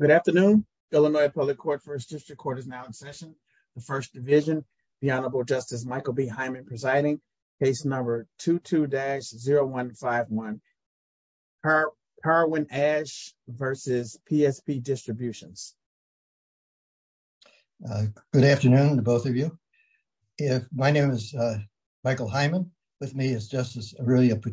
Good afternoon, Illinois Public Court First District Court is now in session. The First Division, the Honorable Justice Michael B. Hyman presiding, case number 22-0151, Parwin-Ash v. PSP Distributions. Good afternoon to both of you. My name is Michael Hyman. With me is Justice Aurelia Allant.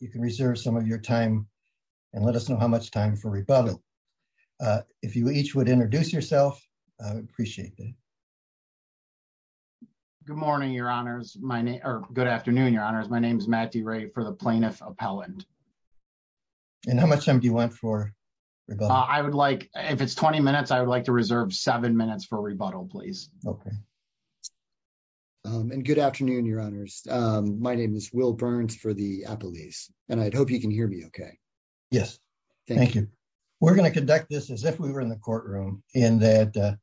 You can reserve some of your time and let us know how much time for rebuttal. If you each would introduce yourself, I would appreciate that. Good morning, Your Honors. My name, or good afternoon, Your Honors. My name is Matt DeRay for the Plaintiff Appellant. And how much time do you want for rebuttal? I would like, if it's 20 minutes, I would like to reserve seven minutes for rebuttal, please. Okay. And good afternoon, Your Honors. My name is Will Burns for the Appellees, and I'd hope you can hear me okay. Yes. Thank you. We're going to conduct this as if we were in the courtroom in that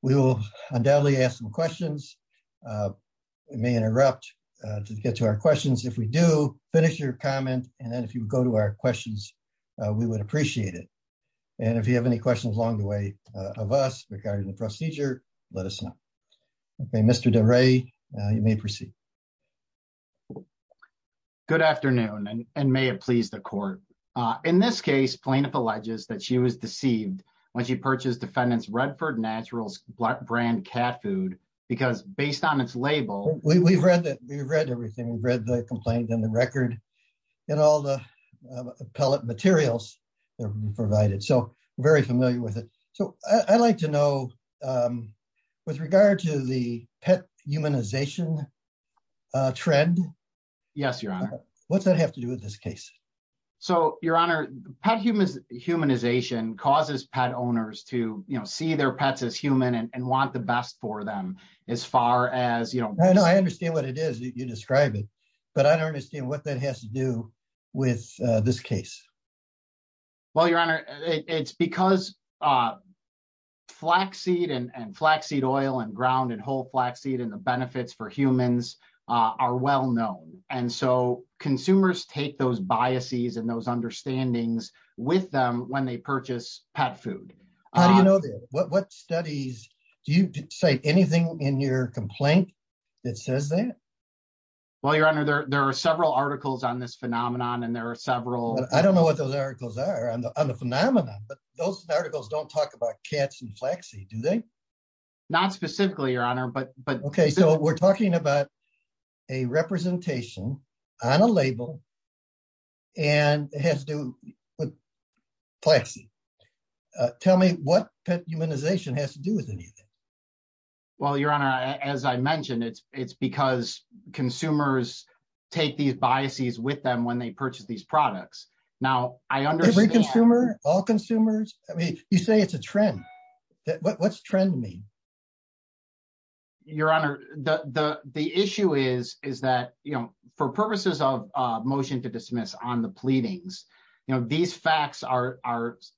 we will undoubtedly ask some questions. It may interrupt to get to our questions. If we do, finish your comment. And then if you go to our questions, we would appreciate it. And if you have any questions along the way of us regarding the procedure, let us know. Okay, Mr. DeRay, you may proceed. Good afternoon, and may it please the court. In this case, plaintiff alleges that she was deceived when she purchased defendant's Redford Naturals brand cat food because based on its label... We've read that. We've read everything. We've read the complaint and the record and all the appellate materials that were provided. So, very familiar with it. So, I'd like to ask you, in regard to the pet humanization trend, what's that have to do with this case? So, Your Honor, pet humanization causes pet owners to see their pets as human and want the best for them as far as... I understand what it is. You describe it, but I don't understand what that has to do with this case. Well, Your Honor, it's because flaxseed and flaxseed oil and ground and whole flaxseed and the benefits for humans are well known. And so, consumers take those biases and those understandings with them when they purchase pet food. How do you know that? What studies... Do you cite anything in your complaint that says that? Well, Your Honor, there are several articles on this phenomenon and there are several... I don't know what those articles are on the phenomenon, but those articles don't talk about cats and flaxseed, do they? Not specifically, Your Honor, but... Okay, so we're talking about a representation on a label and it has to do with flaxseed. Tell me what pet humanization has to do with anything? Well, Your Honor, as I mentioned, it's because consumers take these biases with them when they purchase these products. Now, I understand... Every consumer? All consumers? I mean, you say it's a trend. What's trend mean? Your Honor, the issue is that, you know, for purposes of a motion to dismiss on the pleadings, you know, these facts are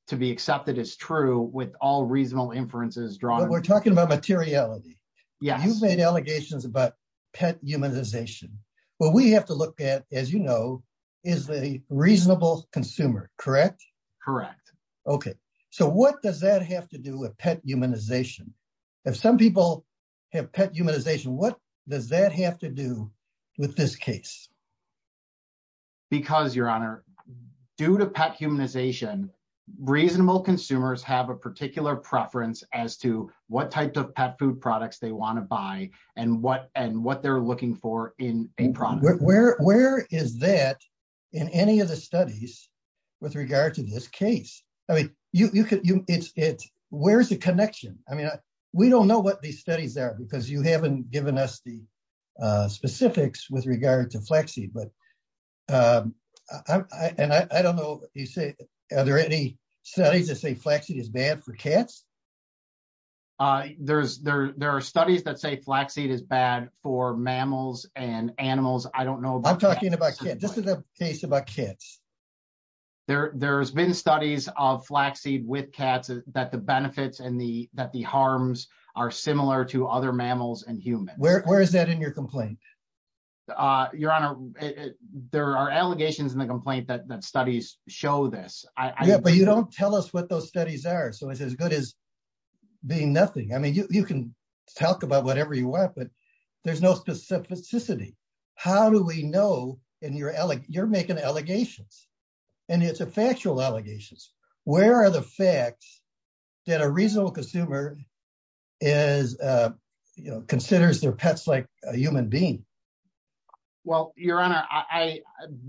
to be accepted as true with all reasonable inferences drawn. We're talking about materiality. Yes. You've made allegations about pet humanization. What we have to look at, as you know, is the reasonable consumer, correct? Correct. Okay, so what does that have to do with pet humanization? If some people have pet humanization, what does that have to do with this case? Because, Your Honor, due to pet humanization, reasonable consumers have a particular preference as to what type of pet food products they want to buy and what they're looking for in a product. Where is that in any of the studies with regard to this case? I mean, where's the connection? I mean, we don't know what these studies are because you haven't given us the specifics with regard to flaxseed, but and I don't know, you say, are there any studies that say flaxseed is bad for cats? There are studies that say flaxseed is bad for mammals and animals. I don't know. I'm talking about cats. This is a case about cats. There's been studies of flaxseed with cats that the benefits and the harms are similar to other mammals and humans. Where is that in your complaint? Your Honor, there are allegations in the complaint that studies show this. Yeah, but you don't tell us what those studies are, so it's as good as being nothing. I mean, you can talk about whatever you want, but there's no specificity. How do we know? You're making allegations, and it's factual allegations. Where are the facts that a reasonable consumer considers their pets like a human being? Well, Your Honor,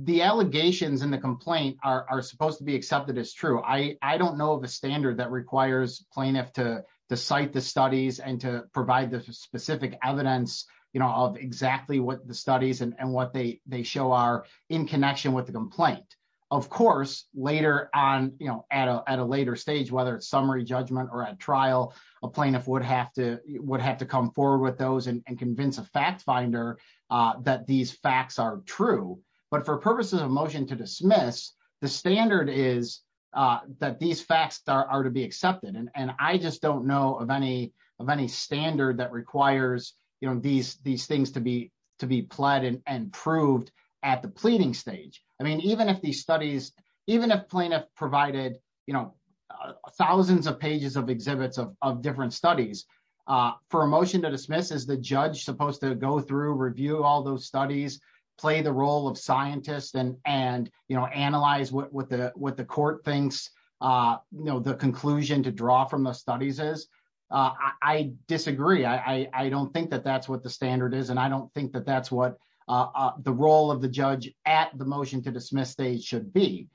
the allegations in the complaint are supposed to be accepted as true. I don't know the standard that requires plaintiffs to cite the studies and to provide the specific evidence of exactly what the studies and what they show are in connection with the complaint. Of course, at a later stage, whether it's summary judgment or at trial, a plaintiff would have to come forward with those and convince a fact finder that these facts are true. But for purposes of motion to dismiss, the standard is that these facts are to be accepted. I just don't know of any standard that requires these things to be pled and proved at the pleading stage. I mean, even if plaintiff provided thousands of pages of exhibits of different studies, for a motion to dismiss, is the judge supposed to go through, review all those studies, play the role of scientist, and analyze what the court thinks the conclusion to draw from those studies is? I disagree. I don't think that that's what the standard is. And I don't think that that's what the role of the judge at the motion to dismiss stage should be.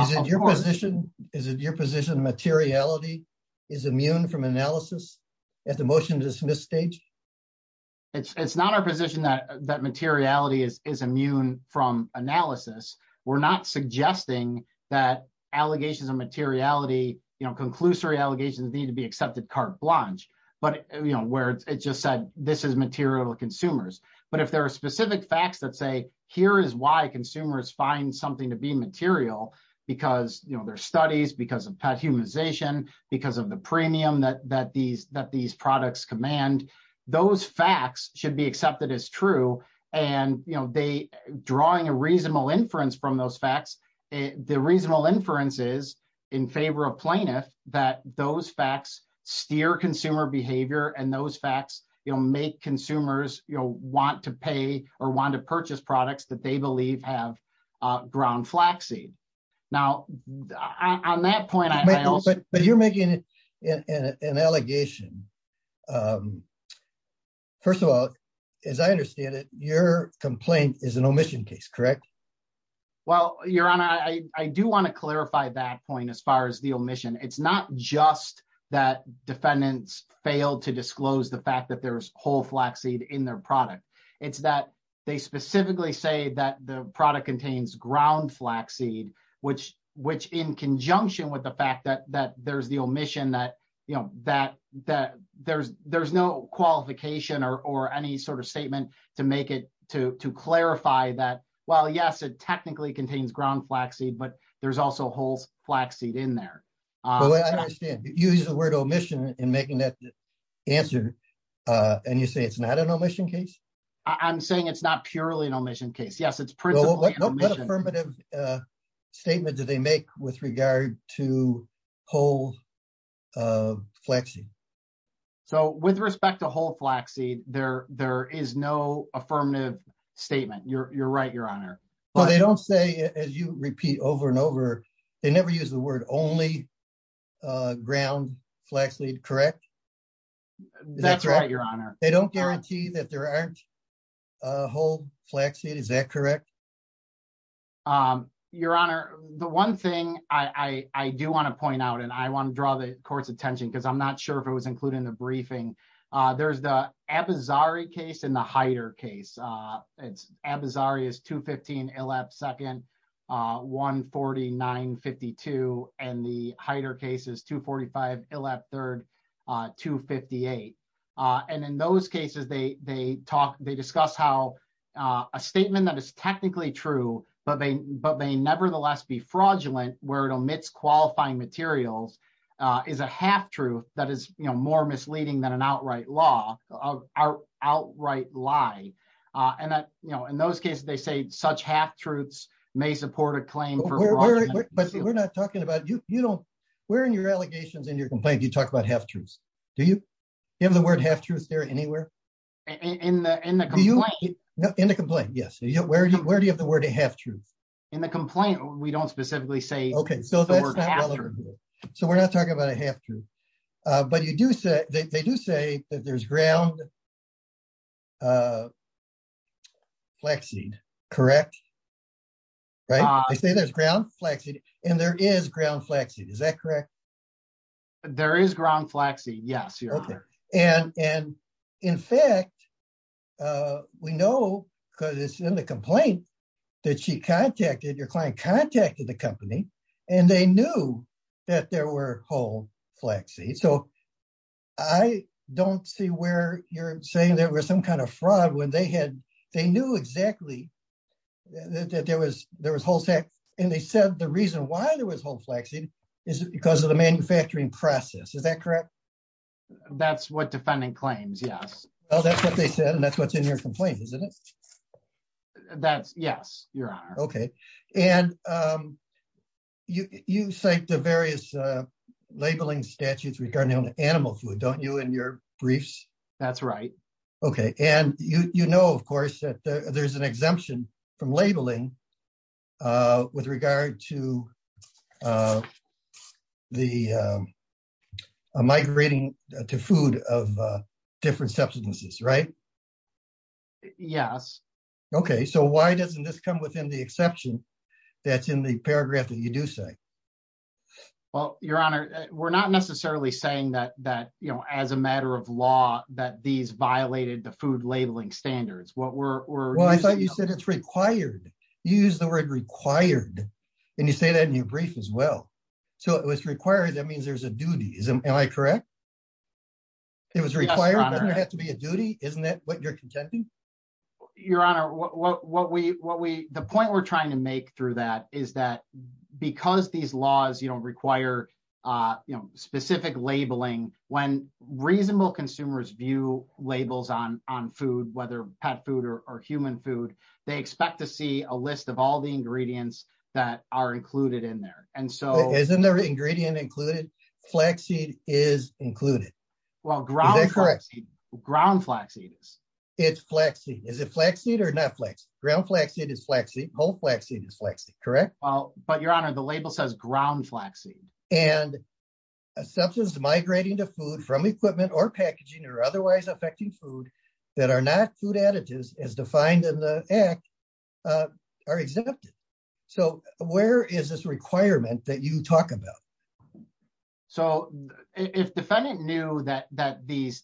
Is it your position that materiality is immune from analysis at the motion to dismiss stage? It's not our position that materiality is immune from analysis. We're not suggesting that allegations of materiality, conclusory allegations need to be accepted carte blanche, where it just said, this is material to consumers. But if there are specific facts that say, here is why consumers find something to be material, because there are studies, because of pet humanization, because of the premium that these products command, those facts should be accepted as true. And drawing a reasonable inference from those facts, the reasonable inference is, in favor of plaintiff, that those facts steer consumer behavior. And those facts make consumers want to pay or want to purchase products that they believe have ground flaxseed. Now, on that point, I also- But you're making an allegation. First of all, as I understand it, your complaint is an omission case, correct? Well, Your Honor, I do want to clarify that point as far as the omission. It's not just that defendants failed to disclose the fact that there's whole flaxseed in their product. It's that they specifically say that the product contains ground flaxseed, which in conjunction with the fact that there's the omission, that there's no qualification or any sort of statement to make it to clarify that, well, yes, it technically contains ground flaxseed, but there's also whole flaxseed in there. Well, I understand. You used the word omission in making that answer, and you say it's not an omission case? I'm saying it's not purely an omission case. Yes, it's principally an omission. What affirmative statement do they make with regard to whole flaxseed? So with respect to whole flaxseed, there is no affirmative statement. You're right, Your Honor. Well, they don't say, as you repeat over and over, they never use the word only ground flaxseed, correct? That's right, Your Honor. They don't guarantee that there aren't whole flaxseed, is that correct? Your Honor, the one thing I do want to point out, and I want to draw the court's attention, because I'm not sure if it was included in the briefing, there's the Abizari case and the Heider case. Abizari is 215 Illab 2nd, 149 52, and the Heider case is 245 Illab 3rd, 258. And in those cases, they discuss how a statement that is technically true, but may nevertheless be materials, is a half-truth that is more misleading than an outright lie. And in those cases, they say such half-truths may support a claim for fraud. But we're not talking about, where in your allegations and your complaint do you talk about half-truths? Do you have the word half-truths there anywhere? In the complaint, yes. Where do you have the word half-truth? In the complaint, we don't specifically say the word half-truth. So we're not talking about a half-truth. But they do say that there's ground flaxseed, correct? They say there's ground flaxseed, and there is ground flaxseed, is that correct? There is ground flaxseed, yes, Your Honor. And in fact, we know, because it's in the complaint, that she contacted, your client contacted the company, and they knew that there were whole flaxseed. So I don't see where you're saying there was some kind of fraud when they knew exactly that there was whole flaxseed. And they said the reason why there was whole flaxseed is because of the manufacturing process. Is that correct? That's what the defendant claims, yes. Well, that's what they said, and that's what's in your complaint, isn't it? Yes, Your Honor. Okay. And you cite the various labeling statutes regarding animal food, don't you, in your briefs? That's right. Okay. And you know, of course, there's an exemption from labeling with regard to the migrating to food of different substances, right? Yes. Okay. So why doesn't this come within the exception that's in the paragraph that you do say? Well, Your Honor, we're not necessarily saying that, you know, as a matter of law, that these violated the food labeling standards. Well, I thought you said it's required. You use the word required, and you say that in your brief as well. So if it's required, that means there's a duty. Am I correct? It was required, but doesn't it have to be a duty? Isn't that what you're contending? Your Honor, the point we're trying to make through that is that because these laws, you know, specific labeling, when reasonable consumers view labels on food, whether pet food or human food, they expect to see a list of all the ingredients that are included in there. Isn't the ingredient included? Flaxseed is included. Well, ground flaxseed. It's flaxseed. Is it flaxseed or not flaxseed? Ground flaxseed is flaxseed. Whole flaxseed is flaxseed, correct? Well, but Your Honor, assumptions migrating to food from equipment or packaging or otherwise affecting food that are not food additives as defined in the Act are exempted. So where is this requirement that you talk about? So if defendant knew that whole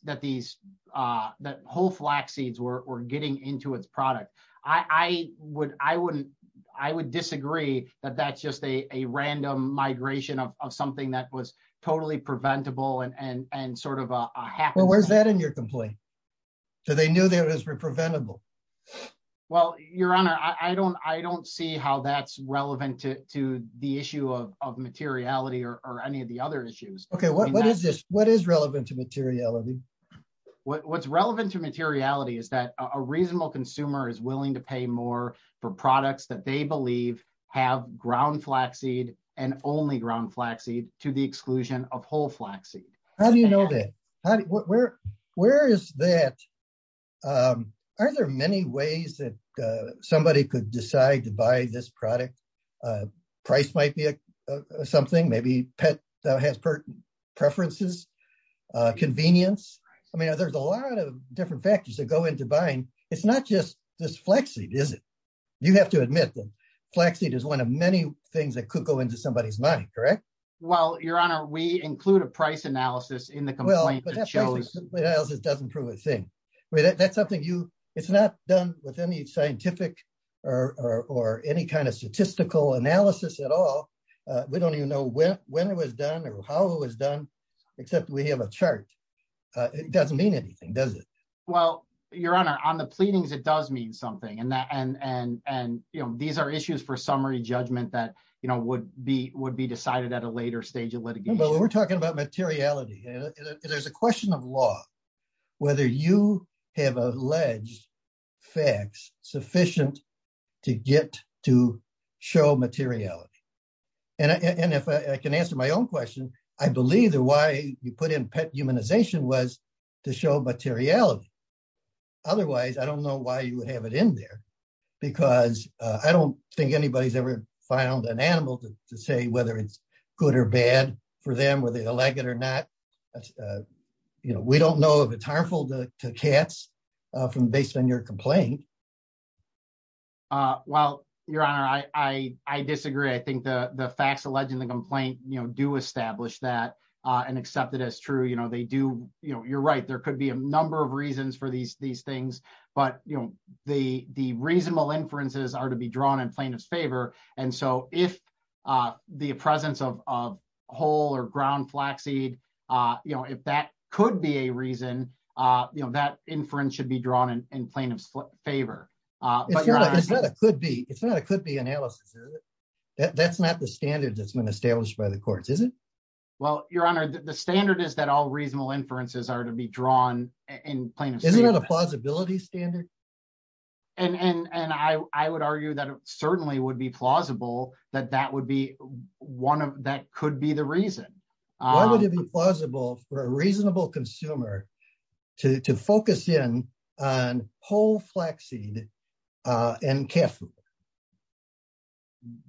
flaxseeds were getting into its product, I would disagree that that's just a random migration of something that was totally preventable and sort of a hack. Well, where's that in your complaint? So they knew they were preventable? Well, Your Honor, I don't see how that's relevant to the issue of materiality or any of the other issues. Okay, what is relevant to materiality? What's relevant to materiality is that a reasonable consumer is willing to pay more for products that they believe have ground flaxseed and only ground flaxseed to the exclusion of whole flaxseed. How do you know that? Where is that? Are there many ways that somebody could decide to buy this product? Price might be something, maybe pet that has preferences, convenience. I mean, there's a lot of different factors that go into buying. It's not just this flaxseed, is it? You have to admit that flaxseed is one of many things that could go into somebody's mind, correct? Well, Your Honor, we include a price analysis in the complaint that shows... Well, but that price analysis doesn't prove a thing. That's something you... It's not done with any scientific or any kind of statistical analysis at all. We don't know when it was done or how it was done, except we have a chart. It doesn't mean anything, does it? Well, Your Honor, on the pleadings, it does mean something. And these are issues for summary judgment that would be decided at a later stage of litigation. But we're talking about materiality. There's a question of law, whether you have alleged facts sufficient to get to show materiality. And if I can answer my own question, I believe that why you put in pet humanization was to show materiality. Otherwise, I don't know why you would have it in there, because I don't think anybody's ever found an animal to say whether it's good or bad for them, whether they like it or not. We don't know if it's harmful to cats from based on your complaint. Well, Your Honor, I disagree. I think the facts alleged in the complaint do establish that and accept it as true. You're right, there could be a number of reasons for these things, but the reasonable inferences are to be drawn in plaintiff's favor. And so if the presence of whole or ground flaxseed, if that could be a reason, that inference should be drawn in plaintiff's favor. It's not a could-be analysis, that's not the standard that's been established by the courts, is it? Well, Your Honor, the standard is that all reasonable inferences are to be drawn in plaintiff's favor. Isn't that a plausibility standard? And I would argue that it certainly would be plausible that that could be the reason. Why would it be plausible for a reasonable consumer to focus in on whole flaxseed and cat food?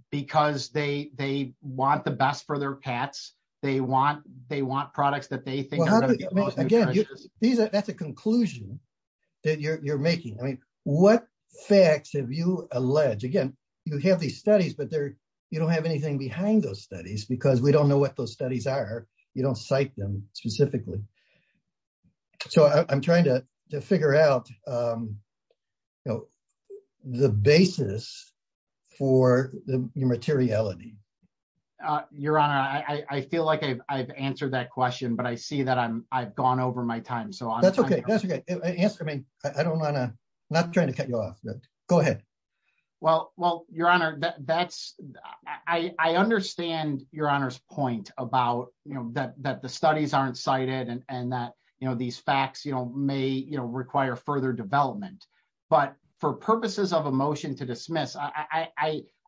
Because they want the best for their cats, they want products that they think... Again, that's a conclusion that you're making. I mean, what facts have you alleged? Again, you have these studies, but you don't have anything behind those studies because we don't know what those studies are. You don't cite them specifically. So I'm trying to figure out the basis for your materiality. Your Honor, I feel like I've answered that question, but I see that I've gone over my time. So I'm... That's okay. Answer me. I don't want to... I'm not trying to cut you off. Go ahead. Well, Your Honor, that's... I understand Your Honor's point about that the studies aren't cited and that these facts may require further development. But for purposes of a motion to dismiss,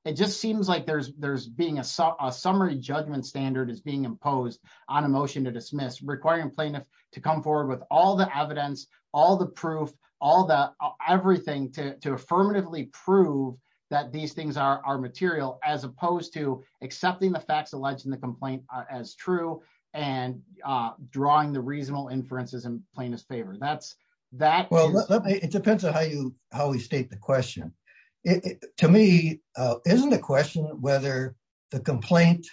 it just seems like there's being a summary judgment standard is being imposed on a motion to dismiss requiring plaintiff to come forward with all the evidence, all the proof, all the... everything to affirmatively prove that these things are material as opposed to accepting the facts alleged in the complaint as true and drawing the reasonable inferences in plaintiff's favor. That's... Well, it depends on how you... how we state the question. To me, isn't the question whether the complaint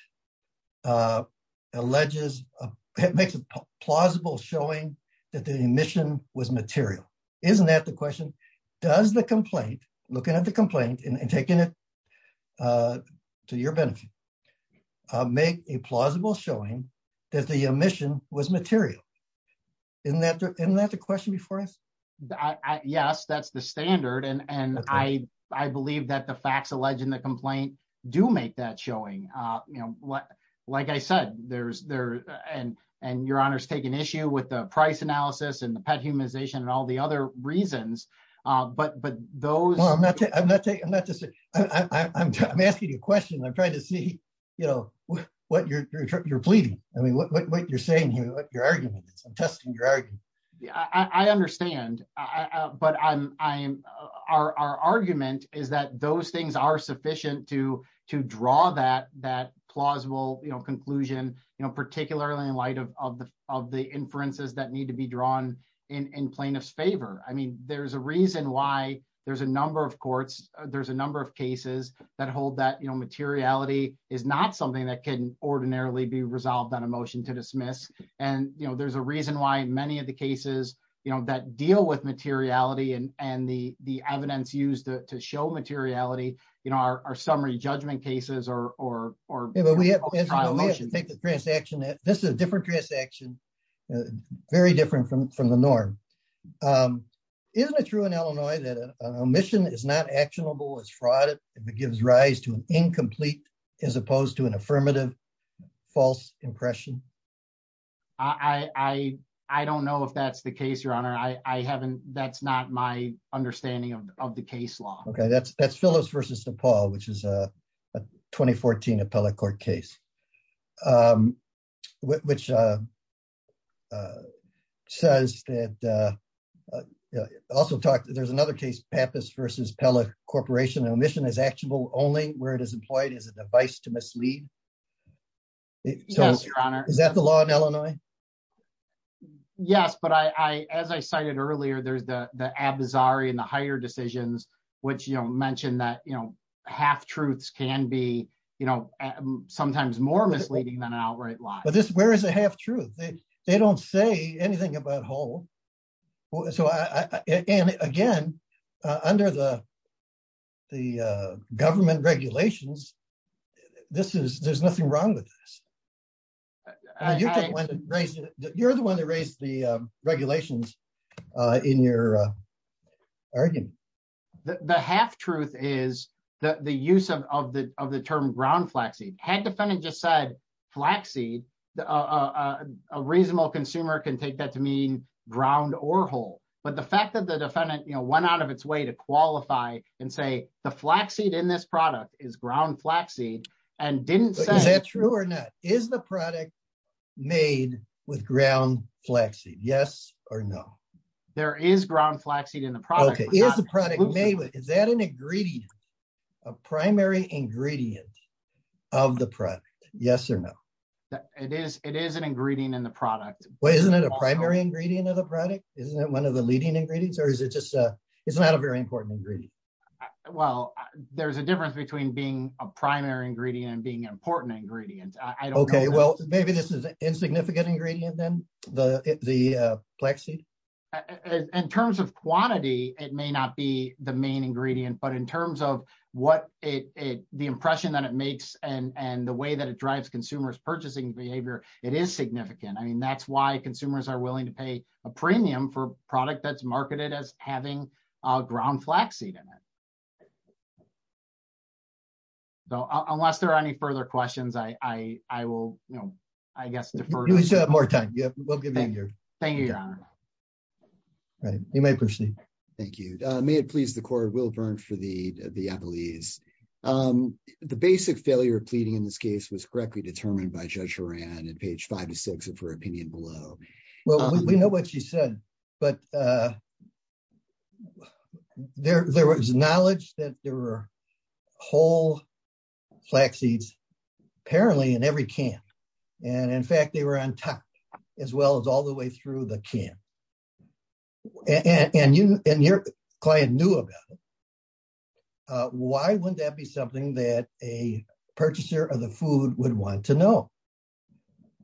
alleges... makes a plausible showing that the omission was material. Isn't that the question? Does the complaint, looking at the complaint and taking it to your benefit, make a plausible showing that the omission was material? Isn't that the question before us? Yes, that's the standard. And I believe that the facts alleged in the complaint do make that showing. Like I said, there's... and Your Honor's taken issue with the price analysis and the pet humanization and all the other reasons. But those... No, I'm not taking... I'm not just... I'm asking you a question. I'm trying to see what you're pleading. I mean, what you're saying here, what your argument is. I'm testing your argument. I understand. But I'm... our argument is that those things are sufficient to draw that plausible conclusion, particularly in light of the inferences that need to be drawn in plaintiff's favor. I mean, there's a reason why there's a number of courts, there's a number of cases that hold that materiality is not something that can ordinarily be resolved on a motion to dismiss. And there's a reason why many of the cases, you know, that deal with materiality and the evidence used to show materiality, you know, are summary judgment cases or... Yeah, but we have to take the transaction. This is a different transaction, very different from the norm. Isn't it true in Illinois that an omission is not actionable, it's fraud, it gives rise to an incomplete as opposed to an affirmative false impression? I don't know if that's the case, Your Honor. I haven't... that's not my understanding of the case law. Okay, that's Phyllis v. DePaul, which is a 2014 appellate court case, which says that... also talked... there's another case, Pappas v. Pella Corporation, an omission is actionable only where it is employed as a device to mislead. Yes, Your Honor. Is that the law in Illinois? Yes, but I... as I cited earlier, there's the Abizari and the higher decisions, which, you know, mentioned that, you know, half-truths can be, you know, sometimes more misleading than an outright lie. But this... where is the half-truth? They don't say anything about hold. So I... and again, under the government regulations, this is... there's nothing wrong with this. You're the one that raised the regulations in your argument. The half-truth is the use of the term ground flaxseed. Had the defendant just said flaxseed, a reasonable consumer can take that to mean ground or hold. But the fact that the it's way to qualify and say the flaxseed in this product is ground flaxseed and didn't say... Is that true or not? Is the product made with ground flaxseed? Yes or no? There is ground flaxseed in the product. Is the product made... is that an ingredient, a primary ingredient of the product? Yes or no? It is. It is an ingredient in the product. Well, isn't it a primary ingredient of the product? Isn't that one of the leading ingredients or is it just... it's not a very important ingredient? Well, there's a difference between being a primary ingredient and being an important ingredient. I don't know. Okay. Well, maybe this is an insignificant ingredient then, the flaxseed? In terms of quantity, it may not be the main ingredient, but in terms of what it... the impression that it makes and the way that it drives consumers' purchasing behavior, it is significant. I mean, that's why consumers are willing to pay a premium for a product that's marketed as having ground flaxseed in it. So, unless there are any further questions, I will, you know, I guess defer to... You still have more time. We'll give you a year. Thank you, Your Honor. All right. You may proceed. Thank you. May it please the court, Will Byrne for the appellees. The basic failure of pleading in this case was correctly determined by Judge Horan in page five to six of her opinion below. Well, we know what she said, but there was knowledge that there were whole flaxseeds apparently in every can. And in fact, they were on top as well as all the way through the can. And your client knew about it. Why wouldn't that be something that a purchaser of the food would want to know?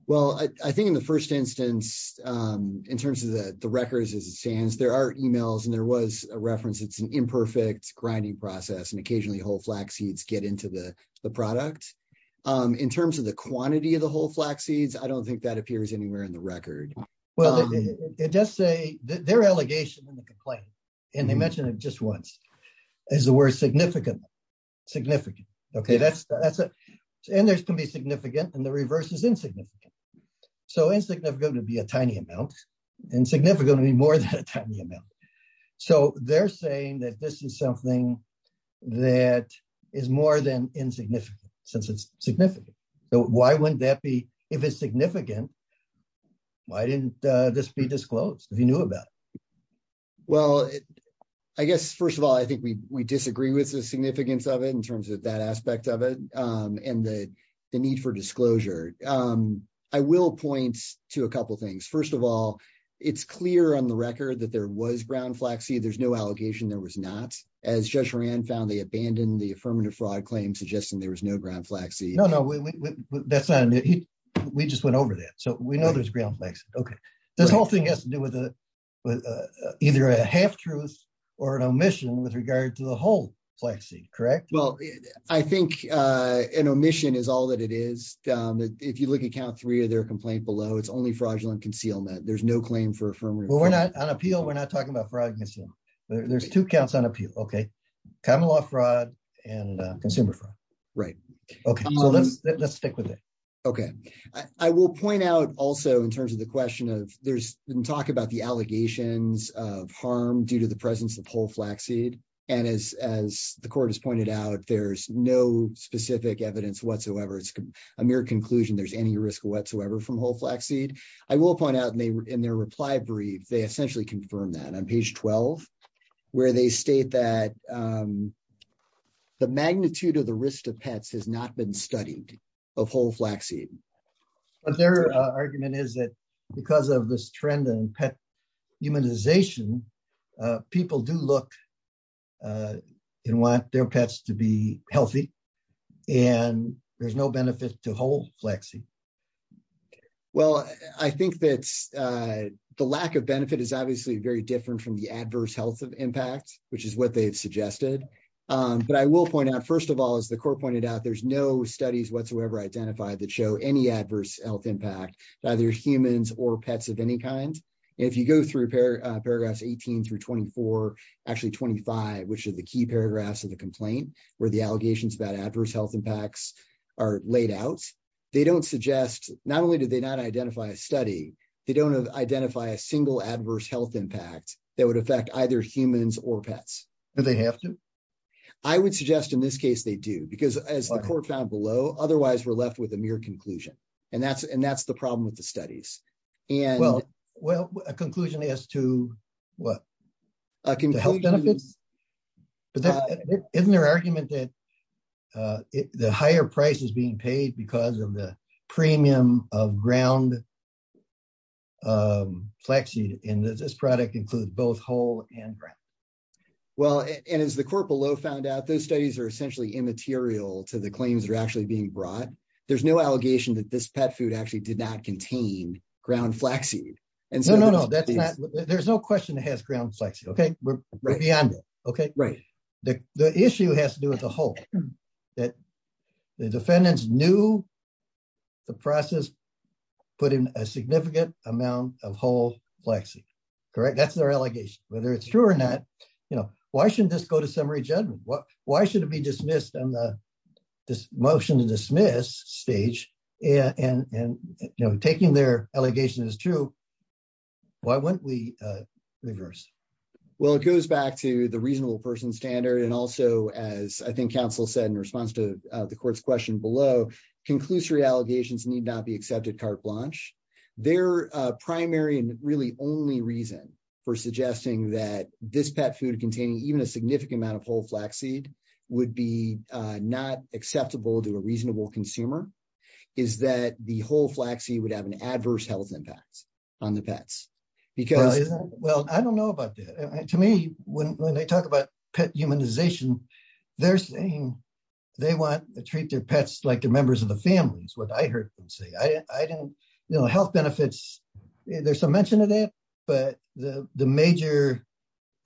Well, I think in the first instance, in terms of the records as it stands, there are emails and there was a reference. It's an imperfect grinding process and occasionally whole flaxseeds get into the product. In terms of the quantity of the whole flaxseeds, I don't think that appears anywhere in the record. Well, it does say their allegation in the complaint, and they mentioned it just once, is the word significant. Significant. Okay, that's it. There can be significant and the reverse is insignificant. So insignificant would be a tiny amount. Insignificant would be more than a tiny amount. So they're saying that this is something that is more than insignificant since it's significant. Why wouldn't that be? If it's significant, why didn't this be disclosed if you knew about it? Well, I guess first of all, I think we disagree with the significance of it in terms of that the need for disclosure. I will point to a couple things. First of all, it's clear on the record that there was ground flaxseed. There's no allegation there was not. As Judge Horan found, they abandoned the affirmative fraud claim suggesting there was no ground flaxseed. No, no, we just went over that. So we know there's ground flaxseed. Okay. This whole thing has to do with either a half truth or an omission with regard to the whole flaxseed, correct? Well, I think an omission is all that it is. If you look at count three of their complaint below, it's only fraudulent concealment. There's no claim for affirmative fraud. Well, we're not on appeal. We're not talking about fraud. There's two counts on appeal. Okay. Common law fraud and consumer fraud. Right. Okay. So let's stick with it. Okay. I will point out also in terms of the question of there's been talk about the allegations of harm due to the presence of whole flaxseed. And as the court has pointed out, there's no specific evidence whatsoever. It's a mere conclusion. There's any risk whatsoever from whole flaxseed. I will point out in their reply brief, they essentially confirm that on page 12, where they state that the magnitude of the risk to pets has not been studied of whole flaxseed. But their argument is that because of this trend in pet humanization, people do look and want their pets to be healthy. And there's no benefit to whole flaxseed. Well, I think that the lack of benefit is obviously very different from the adverse health of impact, which is what they've suggested. But I will point out, first of all, as the court pointed out, there's no studies whatsoever identified that show any adverse health impact to either humans or pets of any kind. If you go through paragraphs 18 through 24, actually 25, which are the key paragraphs of the complaint, where the allegations about adverse health impacts are laid out, they don't suggest not only do they not identify a study, they don't identify a single adverse health impact that would affect either humans or pets. Do they have to? I would suggest in this case, they do. Because as the court found below, otherwise we're left with a mere conclusion. And that's the problem with the studies. Well, a conclusion as to what? A conclusion. Isn't there argument that the higher price is being paid because of the premium of ground flaxseed, and that this product includes both whole and ground? Well, and as the court below found out, those studies are essentially immaterial to the claims that are actually being brought. There's no allegation that this pet food actually did not contain ground flaxseed. There's no question it has ground flaxseed, okay? We're beyond that, okay? The issue has to do with the whole, that the defendants knew the process put in a significant amount of whole flaxseed, correct? That's their allegation. Whether it's true or not, why shouldn't this go to summary judgment? Why should it be dismissed on the motion to dismiss stage, and taking their allegation as true, why wouldn't we reverse? Well, it goes back to the reasonable person standard. And also, as I think counsel said in response to the court's question below, conclusory allegations need not be accepted carte blanche. Their primary and really only reason for suggesting that this pet food containing even a significant amount of whole flaxseed would be not acceptable to a reasonable consumer is that the whole flaxseed would have an adverse health impact on the pets. Well, I don't know about that. To me, when they talk about pet humanization, they're saying they want to treat their pets like they're members of the families, what I heard them say. Health benefits, there's some mention of that, but the major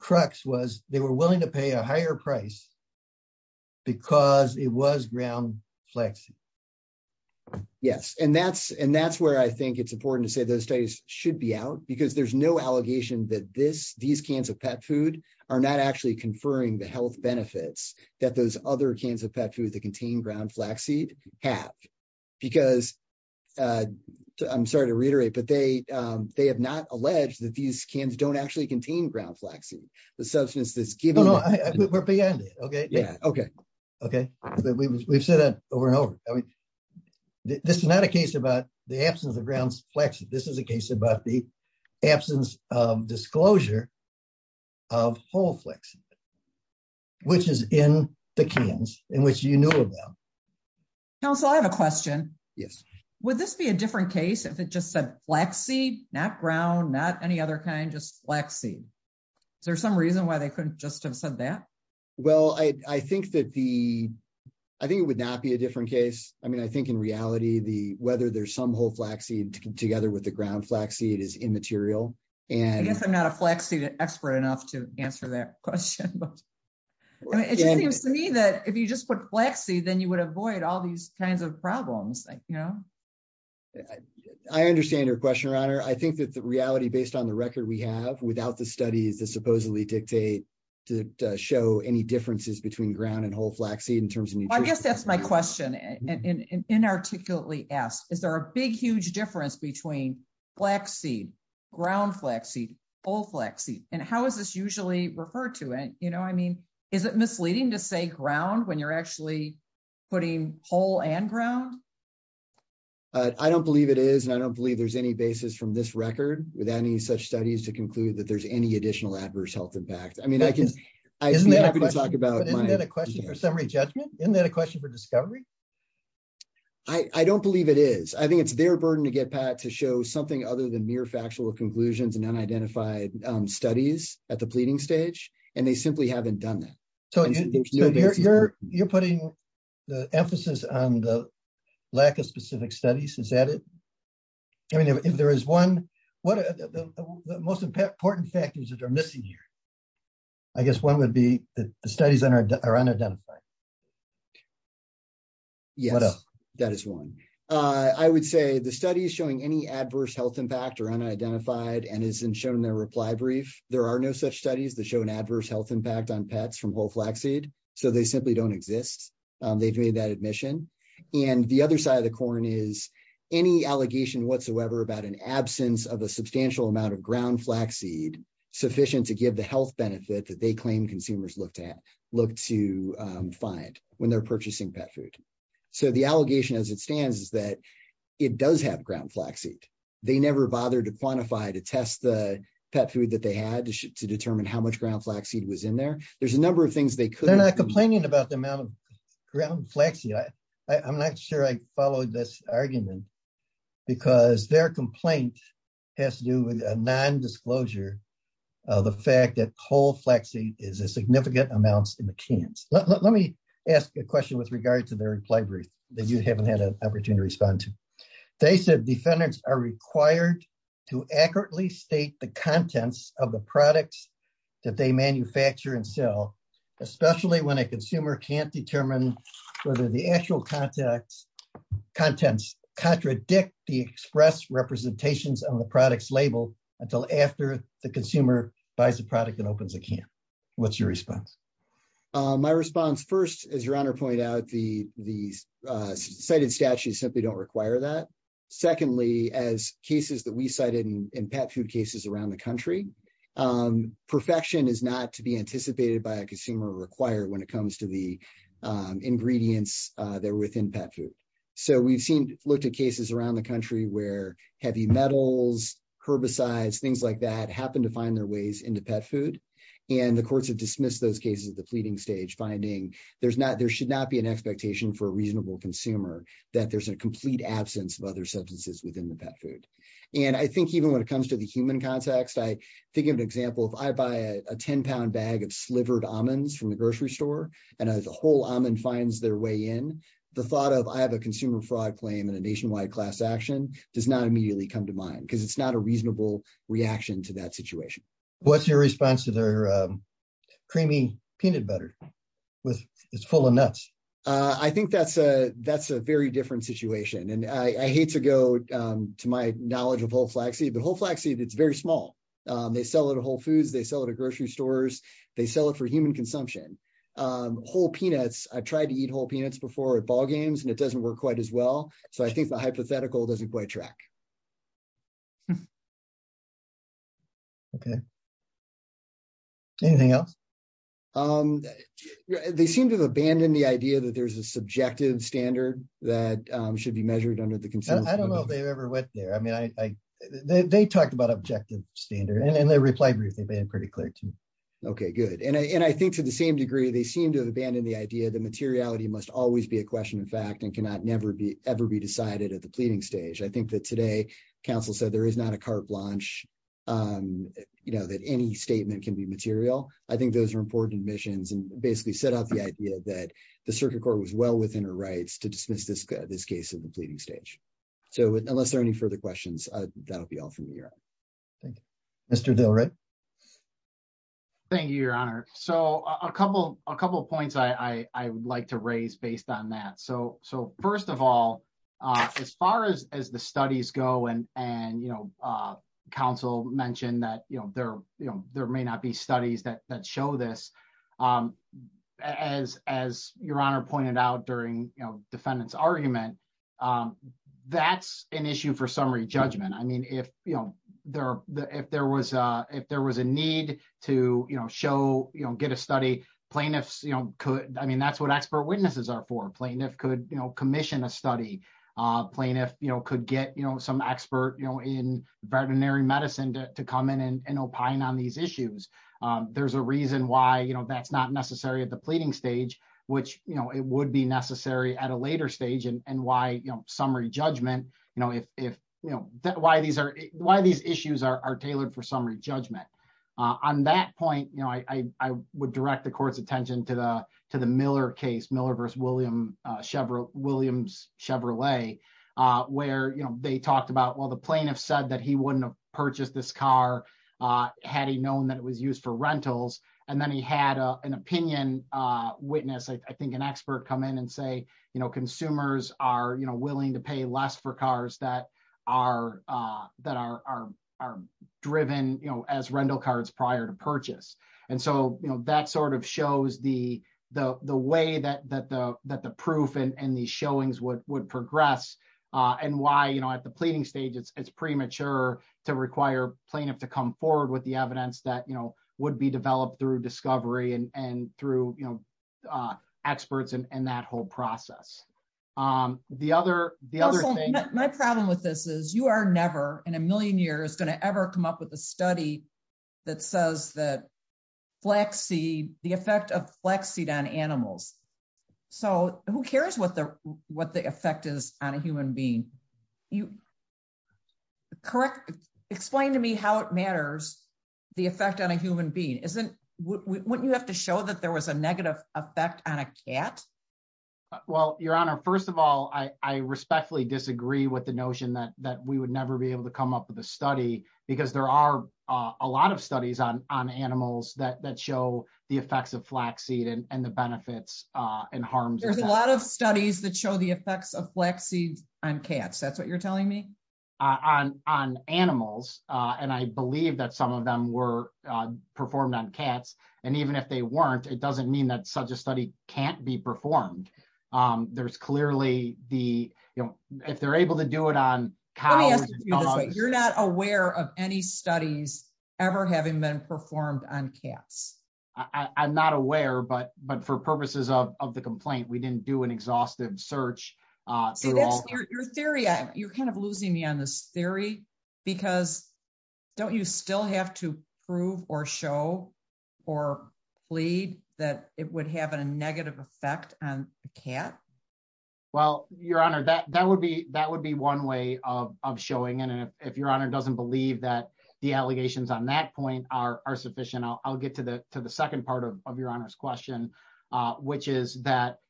crux was they were willing to pay a higher price because it was ground flaxseed. Yes, and that's where I think it's important to say those studies should be out, because there's no allegation that these cans of pet food are not actually conferring the health benefits that those other cans of pet food that contain ground flaxseed have. Because, I'm sorry to reiterate, but they have not alleged that these cans don't actually contain ground flaxseed. The substance that's given... No, no, we're beyond it, okay? Yeah, okay. Okay, we've said that over and over. This is not a case about the absence of ground flaxseed. This is a case about the absence of disclosure of whole flaxseed, which is in the cans in which you knew about. Council, I have a question. Yes. Would this be a different case if it just said flaxseed, not ground, not any other kind, just flaxseed? Is there some reason why they couldn't just have said that? Well, I think it would not be a different case. I mean, I think in reality, whether there's some whole flaxseed together with the ground flaxseed is immaterial. I guess I'm not a flaxseed expert enough to answer that question, but it just seems to me that if you just put flaxseed, then you would avoid all these kinds of problems. I understand your question, Your Honor. I think that the reality based on the record we have without the studies that supposedly dictate to show any differences between ground and whole flaxseed in terms of nutrition. Well, I guess that's my question and inarticulately asked. Is there a big, huge difference between flaxseed, ground flaxseed, whole flaxseed? And how is this usually referred to it? You know, I mean, is it misleading to say ground when you're actually putting whole and ground? I don't believe it is. And I don't believe there's any basis from this record with any such studies to conclude that there's any additional adverse health impact. I mean, I can talk about a question for summary judgment. Isn't that a question for discovery? I don't believe it is. I think it's their burden to get Pat to show something other than mere factual conclusions and unidentified studies at the pleading stage. And they simply haven't done that. You're putting the emphasis on the lack of specific studies. Is that it? I mean, if there is one, what are the most important factors that are missing here? I guess one would be the studies that are unidentified. Yes, that is one. I would say the studies showing any adverse health impact are unidentified and isn't shown in their reply brief. There are no such studies that show an adverse health impact on pets from whole flaxseed. So they simply don't exist. They've made that admission. And the other side of the corn is any allegation whatsoever about an absence of a substantial amount of ground flaxseed sufficient to give the health benefit that they claim consumers look to look to find when they're purchasing pet food. So the allegation, as it stands, is that it does have ground flaxseed. They never bothered to quantify, to test the pet food that they had to determine how much ground flaxseed was in there. There's a number of things they could. They're not complaining about the amount of ground flaxseed. I'm not sure I followed this argument because their complaint has to do with a non-disclosure of the fact that whole flaxseed is a significant amount in the cans. Let me ask a question with regard to their reply brief that you haven't had an opportunity to respond to. They said defendants are required to accurately state the contents of the products that they manufacture and sell, especially when a consumer can't determine whether the actual contents contradict the express representations on the product's label until after the consumer buys the product and opens a can. What's your response? My response, first, as your Honor pointed out, the cited statutes simply don't require that. Secondly, as cases that we cited in pet food cases around the country, perfection is not to be anticipated by a consumer or required when it comes to the ingredients that are within pet food. So we've looked at cases around the country where heavy metals, herbicides, things like that happen to find their ways into pet food, and the courts have dismissed those cases at the pleading stage, finding there should not be an expectation for a reasonable consumer that there's a complete absence of other substances within the pet food. And I think even when it comes to the human context, I think of an example. If I buy a 10-pound bag of slivered almonds from the grocery store and a whole almond finds their way in, the thought of I have a consumer fraud claim and a nationwide class action does not immediately come to mind because it's not a reasonable reaction to that situation. What's your response to their creamy peanut butter? It's full of nuts. I think that's a very different situation. And I hate to go to my knowledge of whole flaxseed, but whole flaxseed, it's very small. They sell it at Whole Foods. They sell it at grocery stores. They sell it for human consumption. Whole peanuts, I tried to eat whole peanuts before at ballgames, and it doesn't work quite as well. So I think the hypothetical doesn't quite track. Okay. Anything else? They seem to have abandoned the idea that there's a subjective standard that should be measured under the consumer. I don't know if they ever went there. I mean, they talked about objective standard, and they replied briefly, but they were pretty clear, too. Okay, good. And I think to the same degree, they seem to have abandoned the idea that materiality must always be a question of fact and cannot ever be decided at the pleading stage. I think that today, counsel said there is not a carte blanche, that any statement can be material. I think those are important admissions and basically set up the idea that the circuit court was well within her rights to dismiss this case at the pleading stage. So unless there are any further questions, that'll be all from me, Your Honor. Thank you. Mr. Del Rey? Thank you, Your Honor. So a couple of points I would like to raise based on that. So first of all, as far as the studies go, and counsel mentioned that there may not be studies that show this, as Your Honor pointed out during defendant's argument, that's an issue for summary judgment. I mean, if there was a need to show, get a study, plaintiffs could, I mean, that's what expert witnesses are for. Plaintiff could commission a study. Plaintiff could get some expert in veterinary medicine to come in and opine on these issues. There's a reason why that's not necessary at the pleading stage, which it would be necessary at a later stage. And why summary judgment, why these issues are tailored for summary judgment. On that point, I would direct the court's attention to the Miller case, Miller versus Williams Chevrolet, where they talked about, well, the plaintiff said that he wouldn't have purchased this car had he known that it was used for rentals. And then he had an opinion witness, I think an expert come in and say, you know, consumers are willing to pay less for cars that are driven, you know, as rental cars prior to purchase. And so, you know, that sort of shows the way that the proof and the showings would progress and why, you know, at the pleading stage, it's premature to require plaintiff to come forward with the evidence that, you know, would be developed through discovery and through, you know, experts and that whole process. The other, the other thing, my problem with this is you are never in a million years going to ever come up with a study that says that flaxseed, the effect of flaxseed on animals. So who cares what the, what the effect is on a human being? You correct, explain to me how it matters, the effect on a human being isn't wouldn't you have to show that there was a negative effect on a cat? Well, Your Honor, first of all, I respectfully disagree with the notion that that we would never be able to come up with a study, because there are a lot of studies on on animals that show the effects of flaxseed and the benefits and harms. There's a lot of studies that show the effects of flaxseed on cats. That's what you're telling me on on animals. And I believe that some of them were performed on cats. And even if they weren't, it doesn't mean that such a study can't be performed. There's clearly the, you know, if they're able to do it on cows, you're not aware of any studies ever having been performed on cats. I'm not aware, but but for purposes of the complaint, we didn't do an exhaustive search. Your theory, you're kind of losing me on this theory, because don't you still have to prove or show or plead that it would have a negative effect on a cat? Well, Your Honor, that that would be that would be one way of showing it. And if Your Honor doesn't believe that the allegations on that point are sufficient, I'll get to the to the second part of Your Honor's question, which is that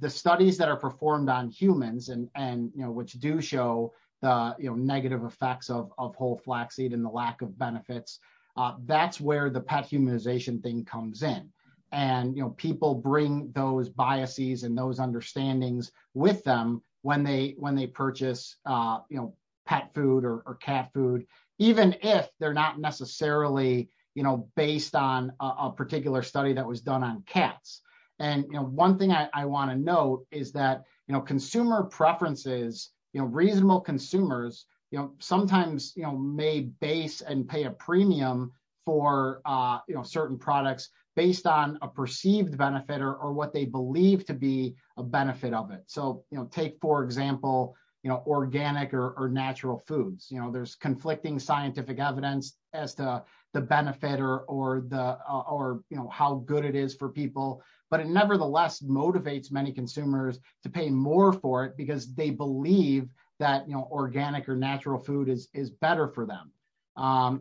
the studies that are performed on humans and which do show the negative effects of whole flaxseed and the lack of benefits, that's where the pet humanization thing comes in. And, you know, people bring those biases and those understandings with them when they when they purchase, you know, pet food or cat food, even if they're not necessarily, you know, based on a particular study that was done on cats. And one thing I want to know is that, you know, consumer preferences, you know, reasonable consumers sometimes may base and pay a premium for certain products based on a perceived benefit or what they believe to be a benefit of it. So, you know, take, for example, you know, organic or natural foods, you know, there's conflicting scientific evidence as to the benefit or the or, you know, how good it is for people. But it nevertheless motivates many consumers to pay more for it because they believe that, you know, organic or natural food is better for them.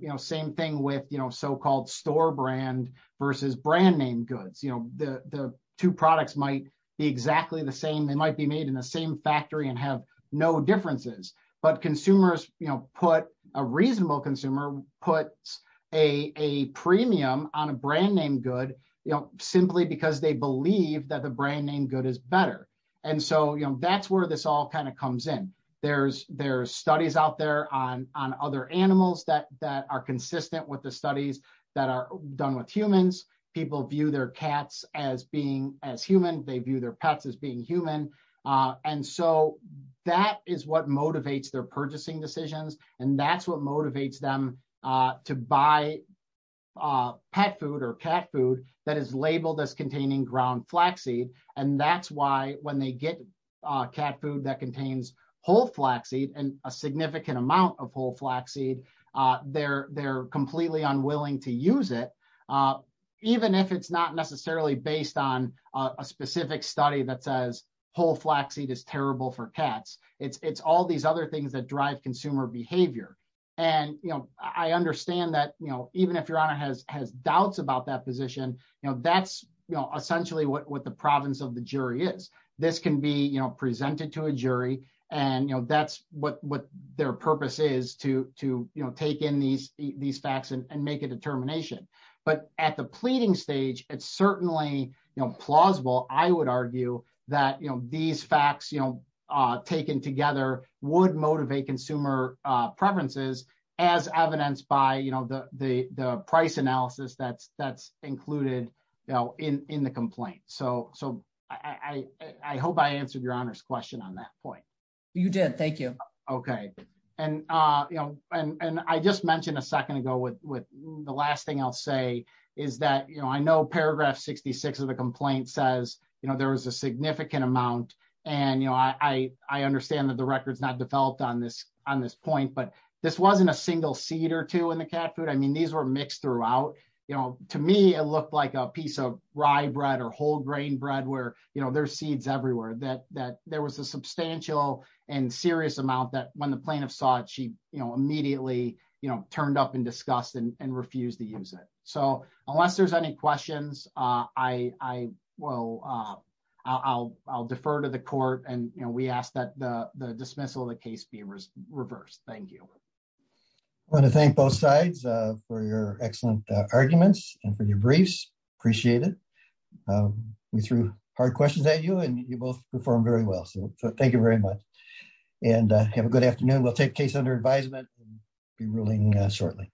You know, same thing with, you know, so-called store brand versus brand name goods. The two products might be exactly the same. They might be made in the same factory and have no differences. But consumers put a reasonable consumer puts a premium on a brand name good, you know, simply because they believe that the brand name good is better. And so, you know, that's where this all kind of comes in. There's there's studies out there on other animals that are consistent with the studies that are done with humans. People view their cats as being as human. They view their pets as being human. And so that is what motivates their purchasing decisions. And that's what motivates them to buy pet food or cat food that is labeled as containing ground flaxseed. And that's why when they get cat food that contains whole flaxseed and a significant amount of whole flaxseed, they're completely unwilling to use it, even if it's not necessarily based on a specific study that says whole flaxseed is terrible for cats. It's all these other things that drive consumer behavior. And, you know, I understand that, you know, even if your honor has doubts about that position, you know, that's essentially what the province of the jury is. This can be, presented to a jury. And, you know, that's what their purpose is to take in these facts and make a determination. But at the pleading stage, it's certainly plausible, I would argue, that, you know, these facts, you know, taken together would motivate consumer preferences as evidenced by, you know, the price analysis that's included in the complaint. So I hope I answered your question on that point. You did. Thank you. Okay. And, you know, and I just mentioned a second ago with the last thing I'll say is that, you know, I know paragraph 66 of the complaint says, you know, there was a significant amount. And, you know, I understand that the record's not developed on this point, but this wasn't a single seed or two in the cat food. I mean, these were mixed throughout, you know, to me, it looked like a piece of rye bread or whole grain bread where, you know, there's seeds everywhere, that there was a substantial and serious amount that when the plaintiff saw it, she, you know, immediately, you know, turned up in disgust and refused to use it. So unless there's any questions, I will, I'll defer to the court. And, you know, we ask that the dismissal of the case be reversed. Thank you. I want to thank both sides for your hard questions that you and you both performed very well. So thank you very much. And have a good afternoon. We'll take case under advisement and be ruling shortly.